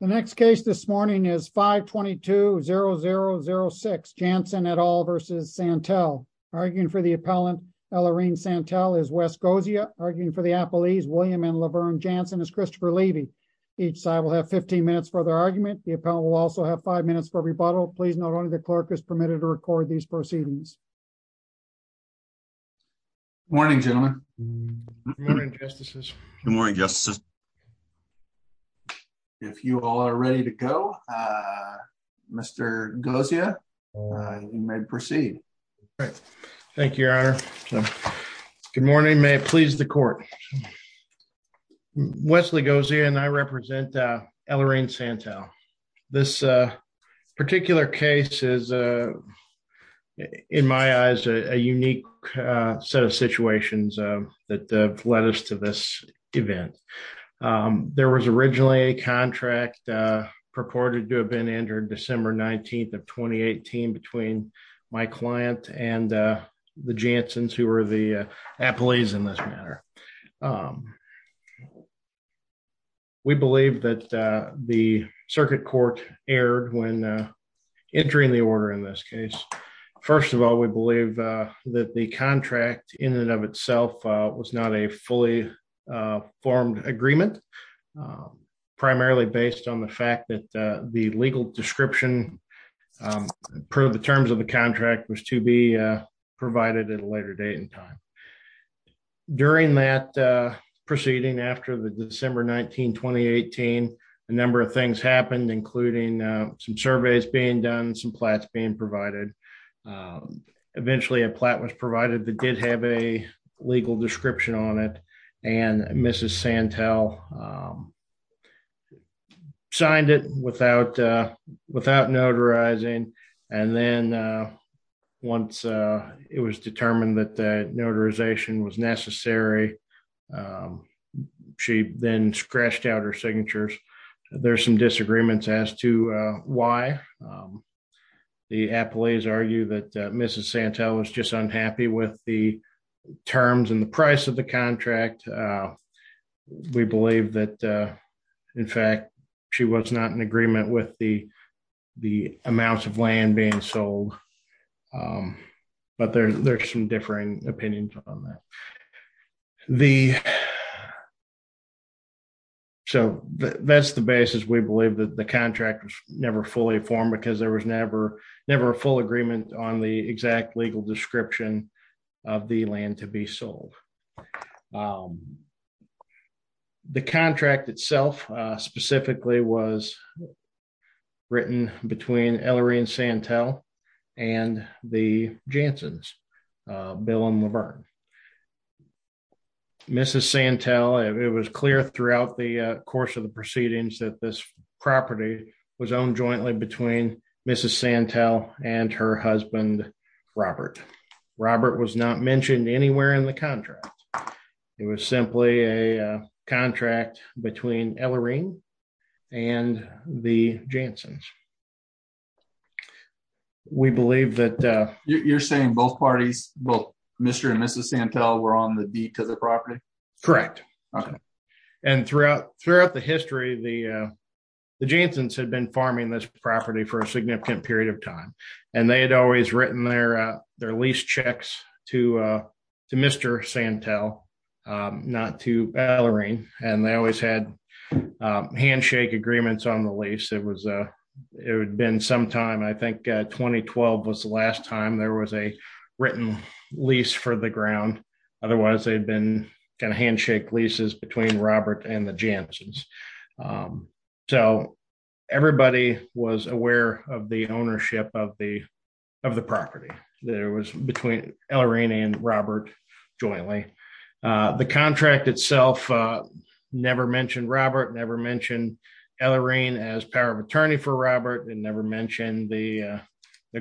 The next case this morning is 522-0006, Jansen et al. v. Santel. Arguing for the appellant, Ellarine Santel, is Wes Gozia. Arguing for the appellees, William and Laverne Jansen, is Christopher Levy. Each side will have 15 minutes for their argument. The appellant will also have five minutes for rebuttal. Please note only the clerk is permitted to record these proceedings. Good morning, gentlemen. Good morning, justices. Good morning, justices. If you all are ready to go, Mr. Gozia, you may proceed. Thank you, your honor. Good morning. May it please the court. Wesley Gozia and I represent Ellarine Santel. This particular case is, in my eyes, a unique set of situations that have led us to this event. There was originally a contract purported to have been entered December 19th of 2018 between my client and the Jansens, who were the appellees in this matter. We believe that the circuit court erred when entering the order in this case. First of all, we believe that the contract in and of itself was not a fully formed agreement, primarily based on the fact that the legal description proved the terms of the contract was to be provided at a later date and time. During that proceeding, after the December 19, 2018, a number of things happened, including some surveys being done, some plats being provided. Eventually, a plat was provided that did have a legal description on it, and Mrs. Santel signed it without notarizing. Then, once it was determined that the notarization was necessary, she then scratched out her signatures. There are some disagreements as to why. The appellees argue that Mrs. Santel was just unhappy with the terms and the price of the contract. We believe that, in fact, she was not in agreement with the amounts of land being sold, but there are some differing opinions on that. That's the basis. We believe that the contract was never fully formed because there was never a full agreement on the exact legal description of the land to be sold. The contract itself specifically was written between Ellery and Santel and the Janssens, Bill and Laverne. It was clear throughout the course of the proceedings that this property was owned jointly between Mrs. Santel and her husband, Robert. Robert was not mentioned anywhere in the contract. It was simply a contract between Ellery and the Janssens. You're saying both parties, Mr. and Mrs. Santel, were on the deed to the property? Correct. Throughout the history, the Janssens had been farming this property for a significant period of time. They had always written their lease checks to Mr. Santel, not to Ellery. They always had handshake agreements on the lease. It had been some time, I think 2012 was the last time there was a written lease for the ground. Otherwise, they'd been handshake leases between Robert and the Janssens. Everybody was aware of the ownership of the property. There was between Ellery and Robert jointly. The contract itself never mentioned Robert, never mentioned Ellery as power of attorney for Robert, and never mentioned the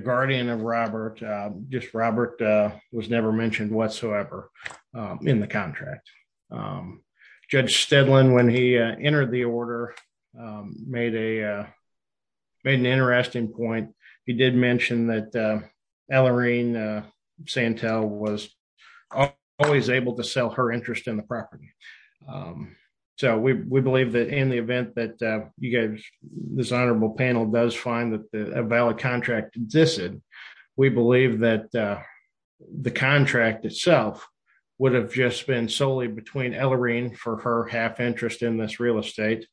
guardian of Robert. Just Robert was never mentioned whatsoever in the contract. Judge Steadland, when he entered the order, made an interesting point. He did mention that Ellery Santel was always able to sell her interest in the property. We believe that in the event that this honorable panel does find that a valid contract existed, we believe that the contract itself would have just been solely between Ellery for her half interest in this real estate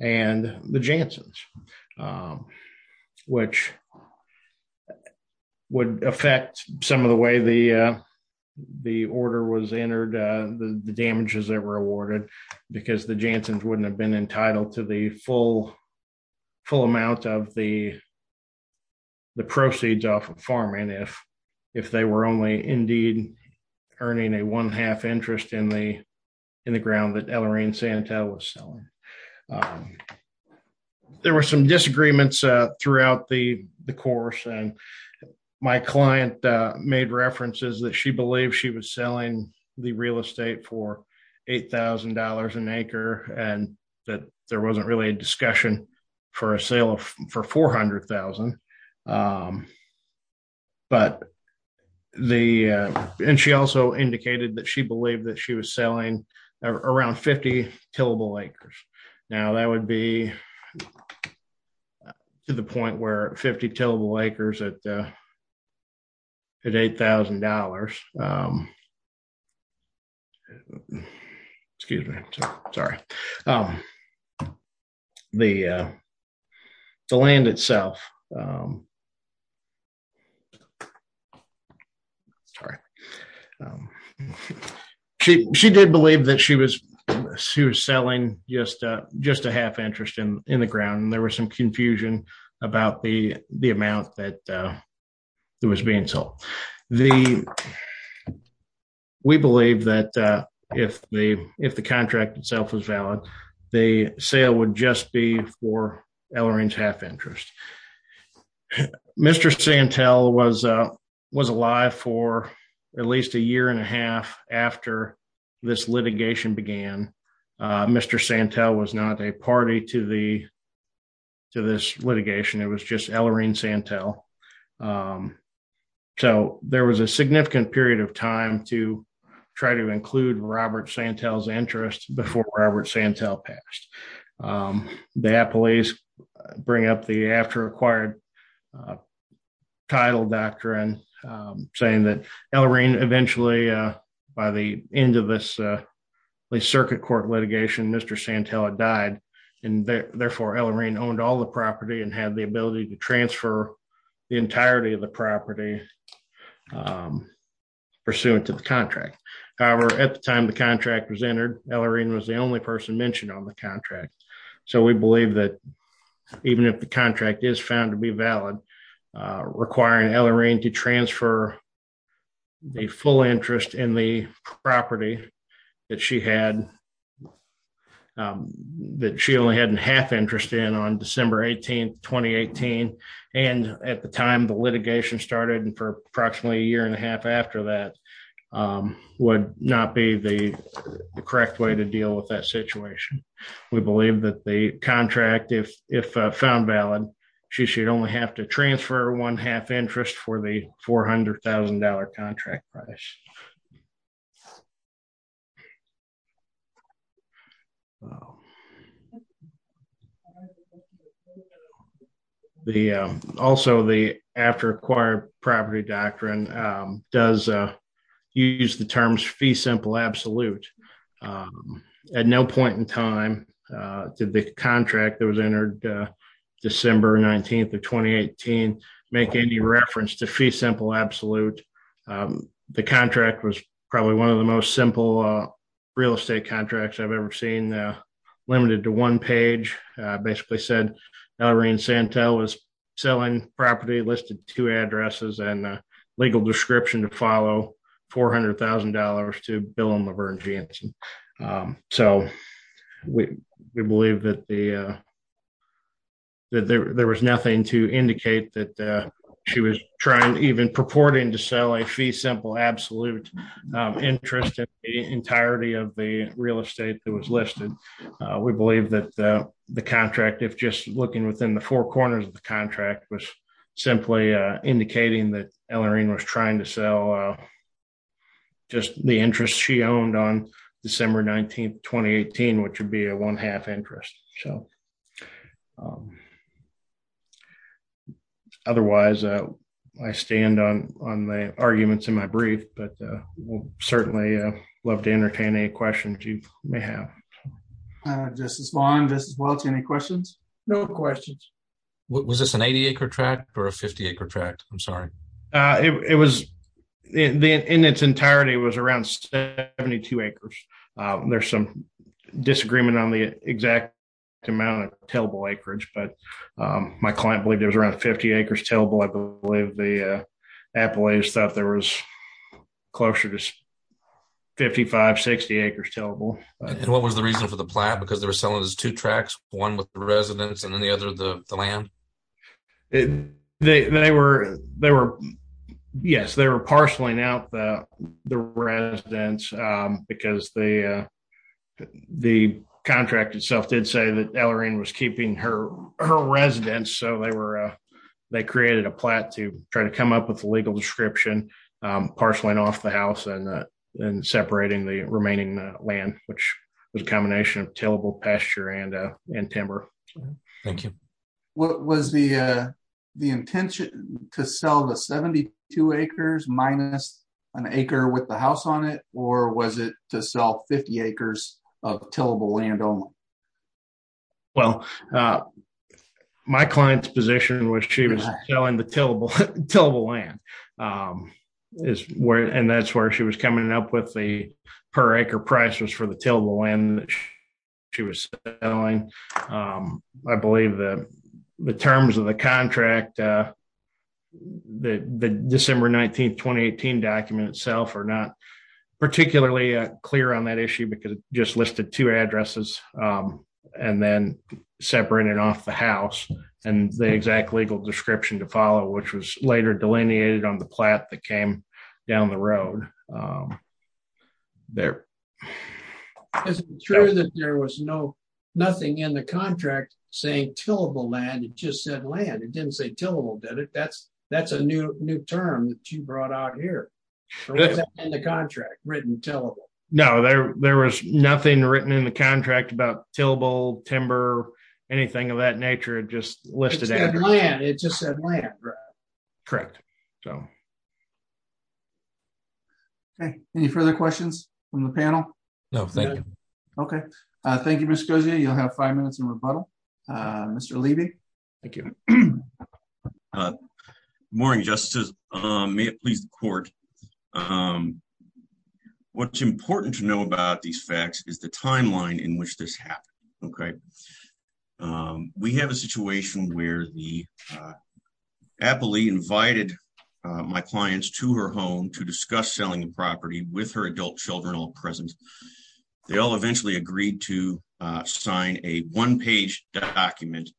and the Janssens, which would affect some of the way the order was entered, the damages that were awarded, because the Janssens wouldn't have been entitled to the full amount of the proceeds off of farming if they were only indeed earning a one-half interest in the ground that Ellery Santel was selling. There were some disagreements throughout the course. My client made references that she believed she was selling the real estate for $8,000 an acre, and that there wasn't really a discussion for a sale for $400,000. She also indicated that she believed that she was selling around 50 tillable acres. Now, that would be to the point where 50 tillable acres at $8,000, excuse me, sorry, the land itself. She did believe that she was selling just a half interest in the ground, and there was some confusion about the amount that was being sold. We believe that if the contract itself was valid, the sale would just be for Ellery's half interest. Mr. Santel was alive for at least a year and a half after this litigation began. Mr. Santel was not a party to this litigation. It was just Ellery Santel. There was a significant period of time to try to include Robert Santel's interest before Robert Santel passed. They had police bring up the after acquired title doctrine saying that Ellery eventually, by the end of this circuit court litigation, Mr. Santel had died. Therefore, Ellery owned all the property and had the ability to transfer the entirety of the property pursuant to the contract. However, at the time the contract was entered, Ellery was the only person mentioned on the contract. We believe that even if the contract is found to be valid, requiring Ellery to transfer the full interest in the property that she only had a half interest in on December 18, 2018, and at the time the litigation started and for approximately a year and a half after that, would not be the correct way to deal with that situation. We believe that the contract, if found valid, she should only have to transfer one half interest for the $400,000 contract price. The after acquired property doctrine does use the terms fee simple absolute. At no point in time did the contract that was entered December 19, 2018, make any reference to fee simple absolute. The contract was probably one of the most simple real estate contracts I've ever seen, limited to one page, basically said Ellery and Santel was selling property listed to addresses and legal description to follow $400,000 to Bill and Laverne Jensen. We believe that there was nothing to indicate that she was trying, even purporting to sell a fee simple absolute interest in the entirety of the real estate that was listed. We believe that the contract, if just looking within the four corners of the contract, was simply indicating that Ellery was trying to sell just the interest she owned on December 19, 2018, which would be a one half interest. Otherwise, I stand on the arguments in my brief, but we'll certainly love to entertain any questions you may have. Justice Long, Justice Welch, any questions? No questions. Was this an 80 acre tract or a 50 acre tract? I'm sorry. In its entirety, it was around 72 acres. There's some disagreement on the exact amount of tillable acreage, but my client believed it was around 50 acres tillable. I believe the appellate thought there was closer to 55, 60 acres tillable. And what was the reason for the plot? Because they were selling those two tracts, one with the residents and then the other the land? Yes, they were parceling out the residents because the contract itself did say that Ellery was keeping her residents. So they created a plot to try to come up with a legal description, parceling off the house and separating the remaining land, which was a combination of tillable pasture and timber. Thank you. What was the the intention to sell the 72 acres minus an acre with the house on it, or was it to sell 50 acres of tillable land only? Well, my client's position was she was selling the tillable land. And that's where she was coming up with the per acre prices for the terms of the contract. The December 19, 2018 document itself are not particularly clear on that issue because it just listed two addresses and then separated off the house and the exact legal description to follow, which was later delineated on the plot that came down the road. Is it true that there was nothing in the contract saying tillable land, it just said land? It didn't say tillable, did it? That's a new term that you brought out here. Was that in the contract written tillable? No, there was nothing written in the contract about tillable, timber, anything of that nature. It just listed land. It just said land. Correct. Okay. Any further questions from the panel? No, thank you. Okay. Thank you, Mr. Gozia. You'll have five minutes in rebuttal. Mr. Levy. Thank you. Morning, Justice. May it please the court. What's important to know about these facts is the timeline in which this happened. Okay. We have a situation where the invited my clients to her home to discuss selling the property with her adult children all present. They all eventually agreed to sign a one-page document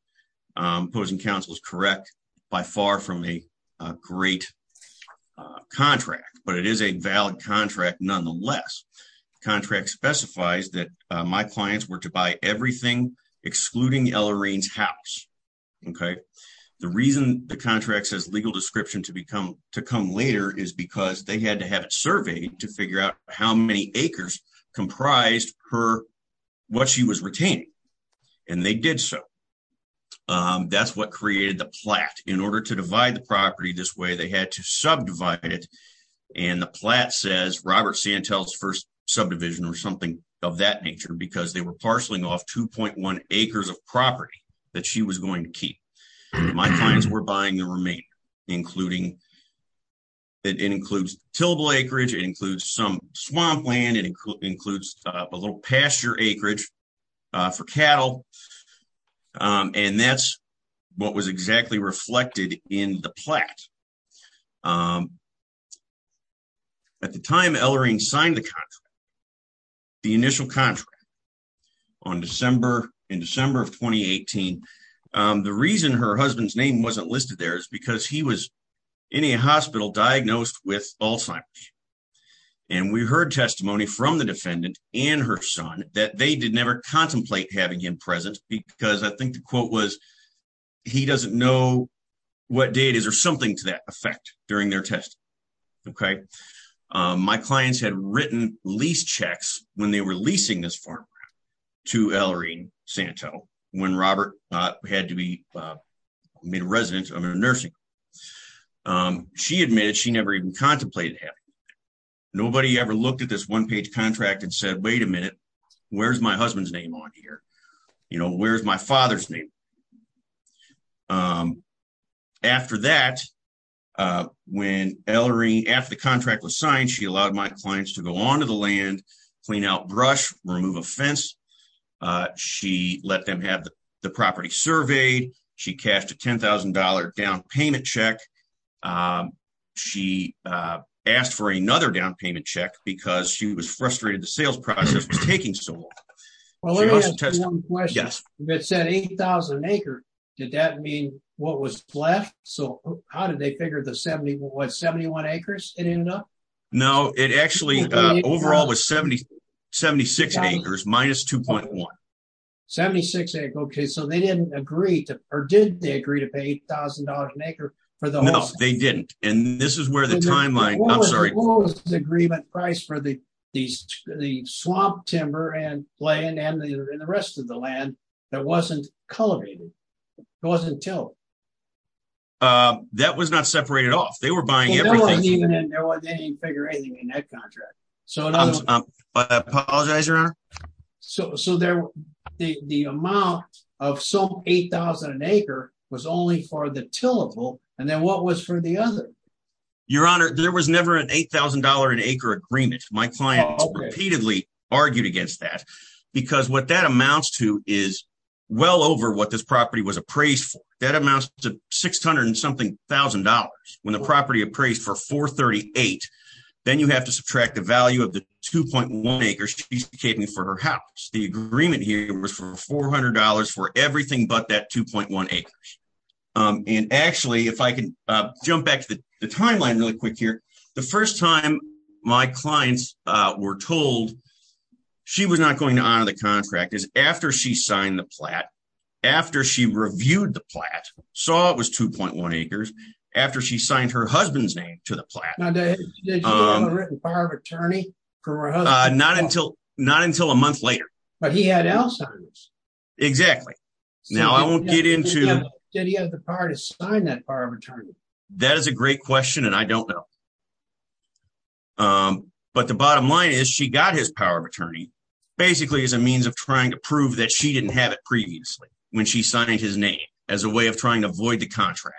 posing counsel's correct by far from a great contract, but it is a valid contract nonetheless. Contract specifies that my legal description to come later is because they had to have it surveyed to figure out how many acres comprised what she was retaining, and they did so. That's what created the plat. In order to divide the property this way, they had to subdivide it, and the plat says Robert Santel's first subdivision or something of that nature because they were parceling off 2.1 acres of property that she was going to keep. My clients were buying the remainder. It includes tillable acreage. It includes some swampland. It includes a little pasture acreage for cattle, and that's what was exactly reflected in the plat. At the time Ellarine signed the contract, the initial contract in December of 2018, the reason her husband's name wasn't listed there is because he was in a hospital diagnosed with Alzheimer's, and we heard testimony from the defendant and her son that they did never contemplate having him present because I think the quote was he doesn't know what date it is something to that effect during their testing. My clients had written lease checks when they were leasing this farm to Ellarine Santel when Robert had to be made a resident of a nursing. She admitted she never even contemplated having him. Nobody ever looked at this one-page contract and said, wait a minute, where's my husband's name on here? Where's my father's name? After that, when Ellarine, after the contract was signed, she allowed my clients to go onto the land, clean out brush, remove a fence. She let them have the property surveyed. She cashed a $10,000 down payment check. She asked for another down payment check because she was frustrated the did that mean what was left? How did they figure the 71 acres it ended up? No, it actually overall was 76 acres minus 2.1. 76 acres. Okay. So they didn't agree to, or did they agree to pay $8,000 an acre for the whole? They didn't. And this is where the timeline, I'm sorry. What was the agreement price for the swamp timber and land and the rest of the land that wasn't cultivated? It wasn't tilled. That was not separated off. They were buying everything. They didn't even figure anything in that contract. Apologize, Your Honor. So the amount of some 8,000 an acre was only for the tillable. And then what was for the other? Your Honor, there was never an $8,000 an acre agreement. My client repeatedly argued against that because what that amounts to is well over what this property was appraised for. That amounts to 600 and something thousand dollars when the property appraised for 438. Then you have to subtract the value of the 2.1 acres she's keeping for her house. The agreement here was for $400 for everything but that 2.1 acres. And actually, if I can jump back to the timeline really quick the first time my clients were told she was not going to honor the contract is after she signed the plat, after she reviewed the plat, saw it was 2.1 acres, after she signed her husband's name to the plat. Did she have a written power of attorney for her husband? Not until a month later. But he had L signs. Exactly. Now I won't get into... Did he have the power to sign that power of attorney? That is a great question and I don't know. But the bottom line is she got his power of attorney basically as a means of trying to prove that she didn't have it previously when she signed his name as a way of trying to avoid the contract.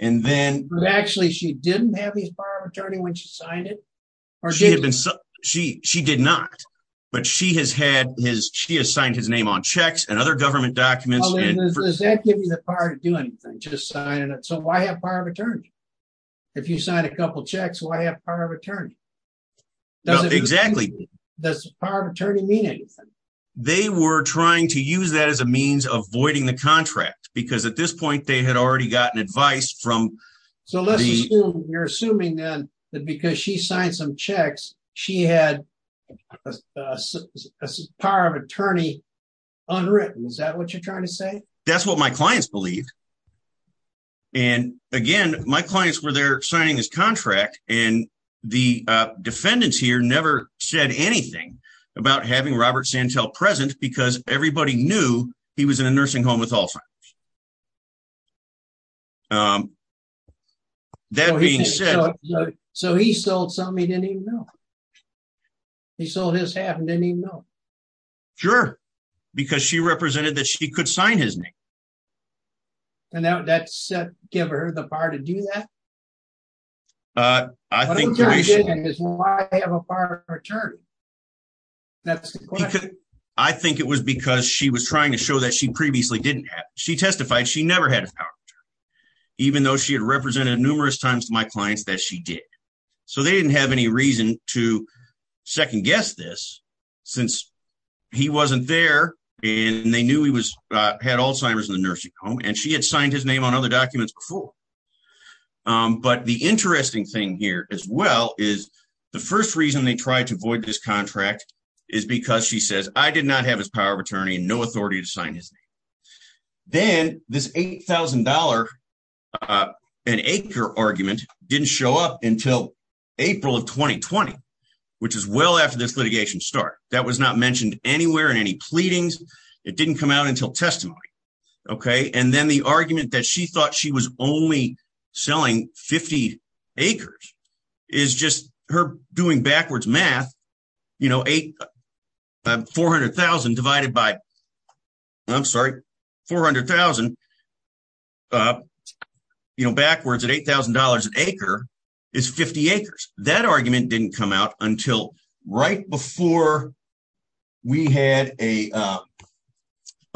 But actually she didn't have his power of attorney when she signed it? She did not but she has had his she has signed his name on checks and other why have power of attorney? If you sign a couple checks why have power of attorney? Exactly. Does the power of attorney mean anything? They were trying to use that as a means of voiding the contract because at this point they had already gotten advice from... So let's assume you're assuming then that because she signed some checks she had a power of attorney unwritten. Is that what you're trying to say? That's what my clients believed. And again my clients were there signing his contract and the defendants here never said anything about having Robert Santel present because everybody knew he was in a nursing home with because she represented that she could sign his name. And now that's give her the power to do that? I think it was because she was trying to show that she previously didn't have. She testified she never had a power of attorney even though she had represented numerous times to my clients that she did. So they didn't have any reason to second-guess this since he wasn't there and they knew he had Alzheimer's in the nursing home and she had signed his name on other documents before. But the interesting thing here as well is the first reason they tried to void this contract is because she says I did not have his power of attorney and no authority to sign his name. Then this $8,000 an acre argument didn't show up until April of 2020 which is well after this litigation start. That was not mentioned anywhere in any pleadings. It didn't come out until testimony. And then the argument that she thought she was only selling 50 acres is just her doing $400,000 backwards at $8,000 an acre is 50 acres. That argument didn't come out until right before we had a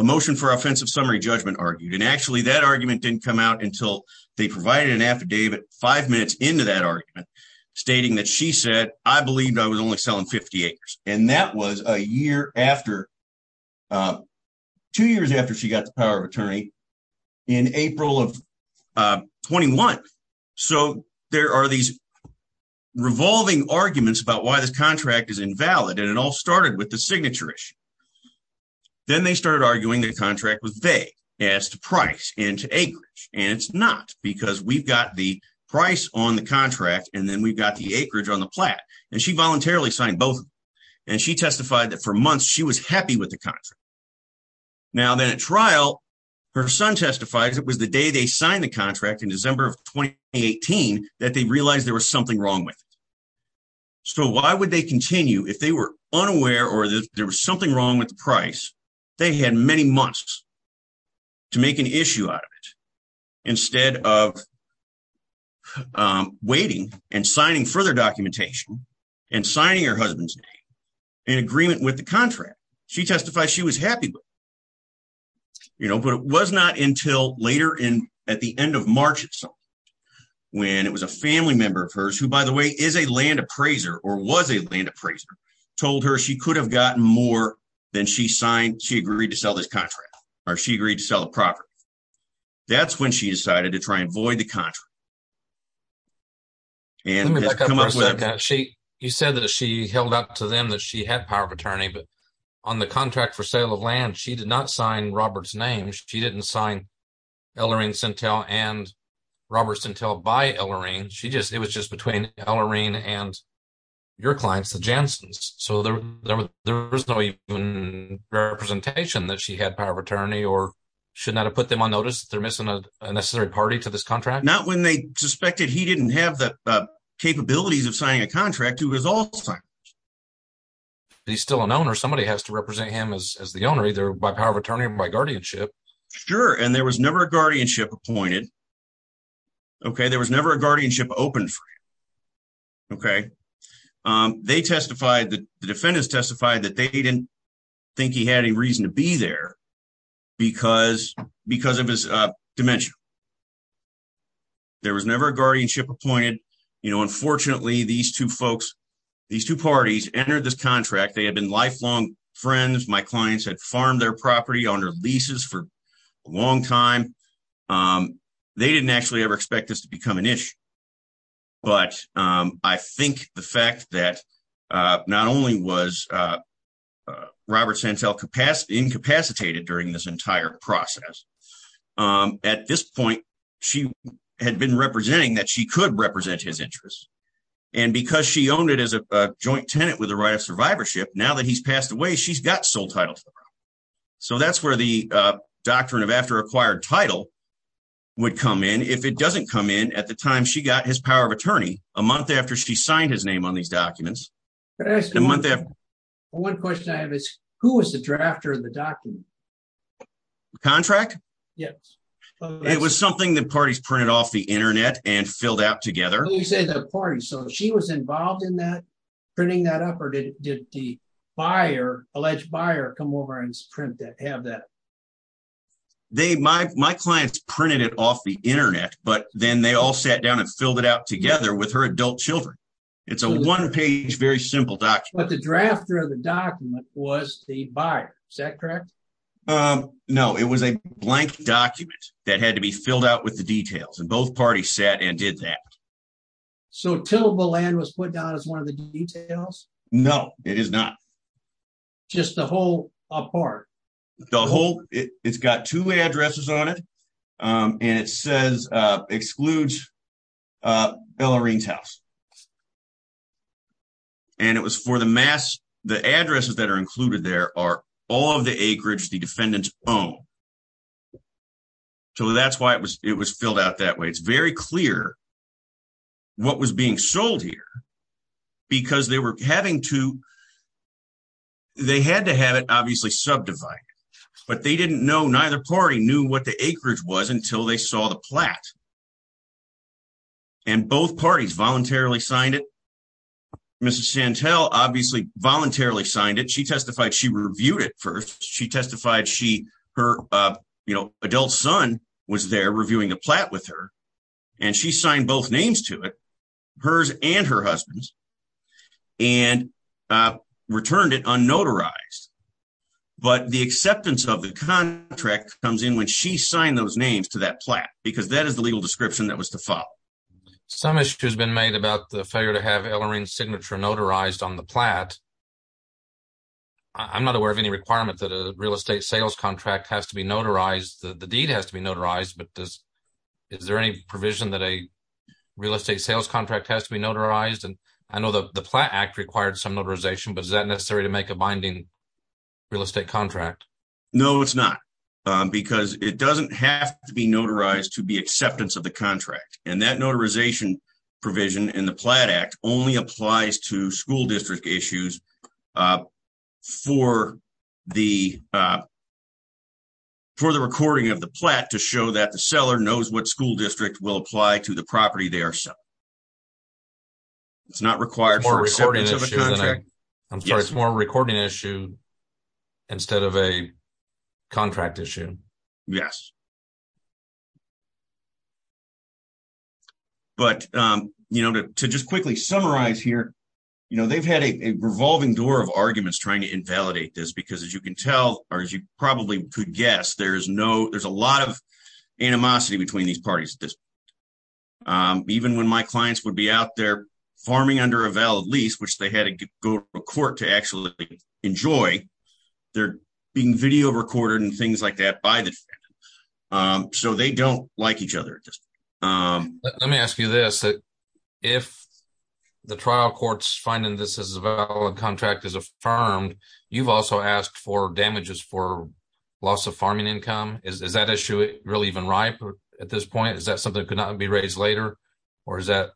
motion for offensive summary judgment argued. And actually that argument didn't come out until they provided an affidavit five minutes into that argument stating that she said I was only selling 50 acres. And that was a year after, two years after she got the power of attorney in April of 21. So there are these revolving arguments about why this contract is invalid and it all started with the signature issue. Then they started arguing the contract was vague as to price and to acreage and it's not because we've got the price on the contract and we've got the acreage on the plat and she voluntarily signed both and she testified that for months she was happy with the contract. Now then at trial her son testified it was the day they signed the contract in December of 2018 that they realized there was something wrong with it. So why would they continue if they were unaware or there was something wrong with the signing further documentation and signing her husband's name in agreement with the contract. She testified she was happy but you know but it was not until later in at the end of March itself when it was a family member of hers who by the way is a land appraiser or was a land appraiser told her she could have gotten more than she signed she agreed to sell this contract or she agreed to sell the property. That's when she decided to try and void the contract and you said that she held up to them that she had power of attorney but on the contract for sale of land she did not sign Robert's name. She didn't sign Ellarine Sintel and Robert Sintel by Ellarine. She just it was just between Ellarine and your clients the Janssens. So there there was no even representation that she had power of attorney or should not have put them on notice that they're missing a necessary party to this not when they suspected he didn't have the capabilities of signing a contract who was he's still an owner somebody has to represent him as the owner either by power of attorney or by guardianship. Sure and there was never a guardianship appointed okay there was never a guardianship open for him okay. They testified the defendants testified that they didn't think he had any reason to be there because because of his dementia. There was never a guardianship appointed you know unfortunately these two folks these two parties entered this contract they had been lifelong friends my clients had farmed their property on their leases for a long time. They didn't actually ever expect this to become an issue but I think the fact that not only was Robert Sintel incapacitated during this entire process at this point she had been representing that she could represent his interests and because she owned it as a joint tenant with the right of survivorship now that he's passed away she's got sole title. So that's where the doctrine of after acquired title would come in if it doesn't come in at the time she got his power of attorney a month after she signed his name on these documents. One question I have is who was the drafter of the document? Contract? Yes. It was something that parties printed off the internet and filled out together. You said the party so she was involved in that printing that up or did the buyer alleged buyer come over and print that out? My clients printed it off the internet but then they all sat down and filled it out together with her adult children. It's a one page very simple document. But the drafter of the document was the buyer is that correct? No it was a blank document that had to be filled out with the details and both parties sat and did that. So tillable land was put down as one of the details? No it is not. Just the whole apart? The whole it's got two addresses on it and it says excludes Bellarine's house. And it was for the mass the addresses that are included there are all of the acreage the defendants own. So that's why it was it was filled out that way. It's very clear what was being sold here because they were having to they had to have it obviously subdivided. But they didn't know neither party knew what the acreage was until they saw the plat. And both parties voluntarily signed it. Mrs. Chantel obviously voluntarily signed it. She testified she reviewed it first. She testified she her you know adult son was there reviewing the plat with her and she signed both names to it hers and her husband's and returned it unnotarized. But the acceptance of the contract comes in when she signed those names to that plat because that is the legal description that was to follow. Some issue has been made about the failure to have Ellarine's signature notarized on the plat. I'm not aware of any requirement that a is there any provision that a real estate sales contract has to be notarized? And I know that the plat act required some notarization but is that necessary to make a binding real estate contract? No it's not because it doesn't have to be notarized to be acceptance of the contract. And that notarization provision in the plat act only applies to school district issues. For the recording of the plat to show that the seller knows what school district will apply to the property they are selling. It's not required for acceptance of a contract. I'm sorry it's more of a recording issue instead of a contract issue. Yes. But to just quickly summarize here, they've had a revolving door of arguments trying to invalidate this because as you can tell or as you probably could guess, there's a lot of animosity between these parties. Even when my clients would be out there farming under a valid lease which they had to go to court to actually enjoy, they're being video recorded and things like that by the defendant. So they don't like each other at this point. Let me ask you this, if the trial court's finding this as a valid contract is affirmed, you've also asked for damages for loss of farming income. Is that issue really even ripe at this point? Is that something that could not be raised later? Or is that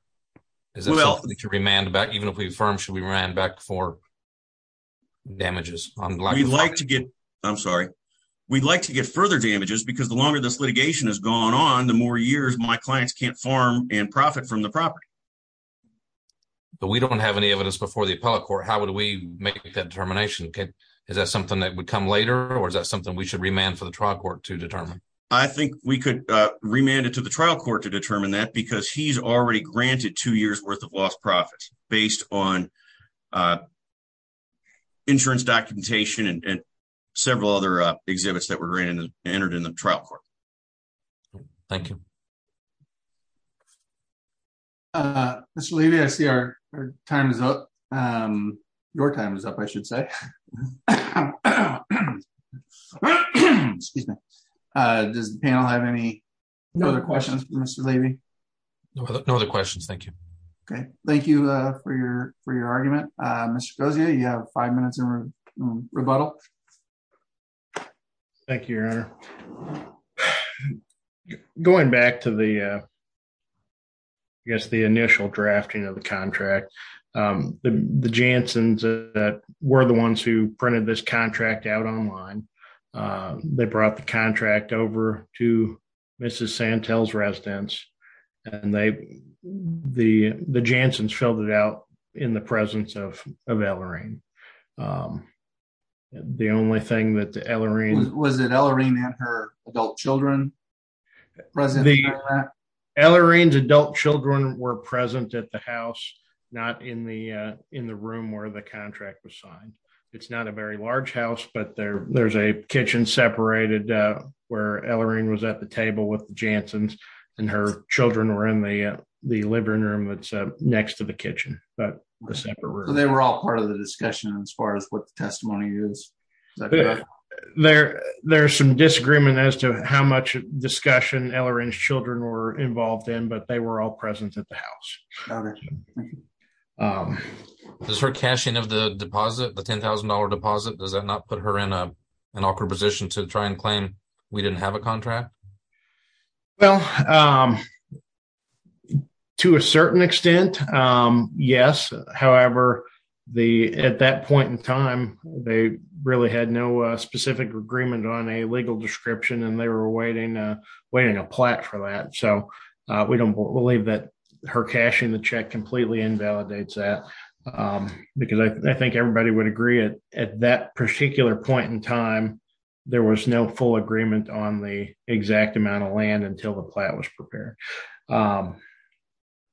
something to remand back even if we affirm we ran back for damages? We'd like to get further damages because the longer this litigation has gone on, the more years my clients can't farm and profit from the property. But we don't have any evidence before the appellate court. How would we make that determination? Is that something that would come later or is that something we should remand for the trial court to determine? I think we could remand it to the trial court to determine that because he's already granted two years worth of lost profits based on insurance documentation and several other exhibits that were entered in the trial court. Thank you. Mr. Levy, I see our time is up. Your time is up, I should say. Does the panel have any other questions for Mr. Levy? No other questions, thank you. Okay, thank you for your argument. Mr. Gozia, you have five minutes in rebuttal. Thank you, Your Honor. Going back to the initial drafting of the contract, the Janssens that were the ones who printed this contract out online, they brought the contract over to Mrs. Santel's residence and the Janssens filled it out in the presence of Ellarine. The only thing that the Ellarine... Was it Ellarine and her adult children were present at the house, not in the room where the contract was signed. It's not a very large house, but there's a kitchen separated where Ellarine was at the table with the Janssens and her children were in the living room that's next to the kitchen. They were all part of the discussion as far as what the testimony is? There's some disagreement as to how much discussion Ellarine's children were involved in, but they were all present at the house. Does her cashing of the deposit, the $10,000 deposit, does that not put her in an awkward position to try and claim we didn't have a contract? Well, to a certain extent, yes. However, at that point in time, they really had no specific agreement on a legal description and they were awaiting a plat for that. We don't believe that her cashing the check completely invalidates that because I think everybody would agree at that particular point in time, there was no full agreement on the exact amount of land until the plat was prepared.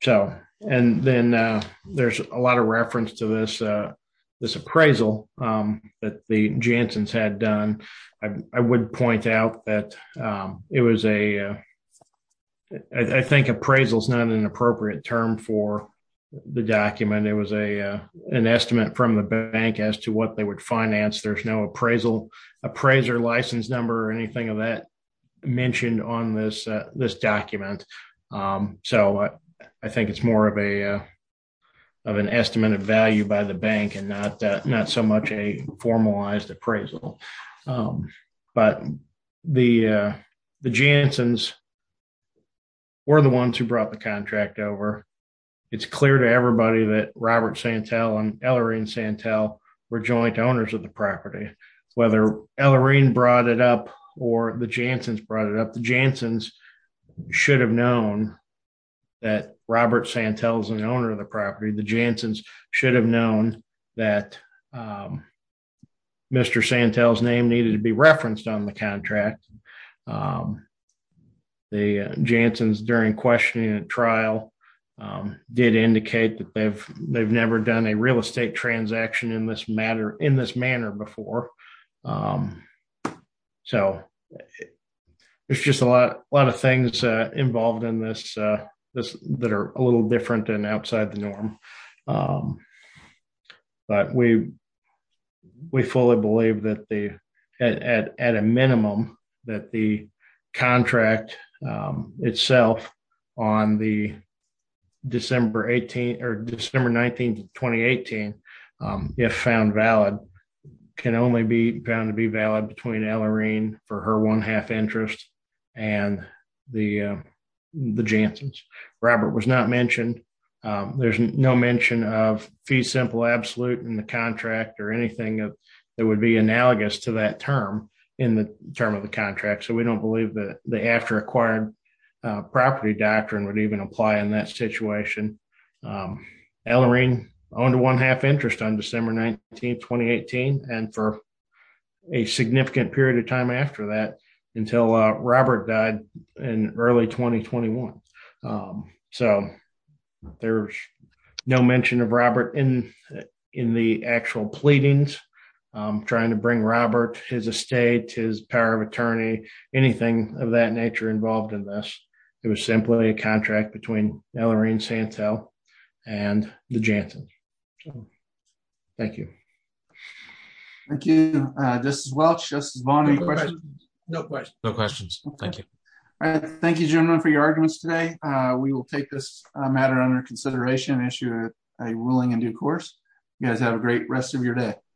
There's a lot of reference to this appraisal that the Janssens had done I would point out that I think appraisal is not an appropriate term for the document. It was an estimate from the bank as to what they would finance. There's no appraisal appraiser license number or anything of that mentioned on this document. I think it's more of an estimated value by the bank and not so much a formalized appraisal. The Janssens were the ones who brought the contract over. It's clear to everybody that Robert Santel and Ellarine Santel were joint owners of the property. Whether Ellarine brought it up or the Janssens brought it up, the Janssens should have known that Robert Santel is an owner of the property. The Janssens should have known that Mr. Santel's name needed to be referenced on the contract. The Janssens during questioning and trial did indicate that they've never done a real involved in this that are a little different than outside the norm. But we fully believe that at a minimum that the contract itself on December 19, 2018 if found valid can only be found to be valid between Ellarine for her one half interest and the Janssens. Robert was not mentioned. There's no mention of fee simple absolute in the contract or anything that would be analogous to that term in the term of the contract. So we don't believe that the after acquired property doctrine would even apply in that situation. Ellarine owned one half interest on December 19, 2018 and for a significant period of time after that until Robert died in early 2021. So there's no mention of Robert in the actual pleadings trying to bring Robert, his estate, his power of attorney, anything of that nature involved in this. It was simply a contract between Ellarine Santel and the Janssens. Okay. Thank you. Thank you. This is Welch. Justice Vaughn, any questions? No questions. No questions. Thank you. All right. Thank you gentlemen for your arguments today. We will take this matter under consideration and issue a ruling in due course. You guys have a great rest of your day.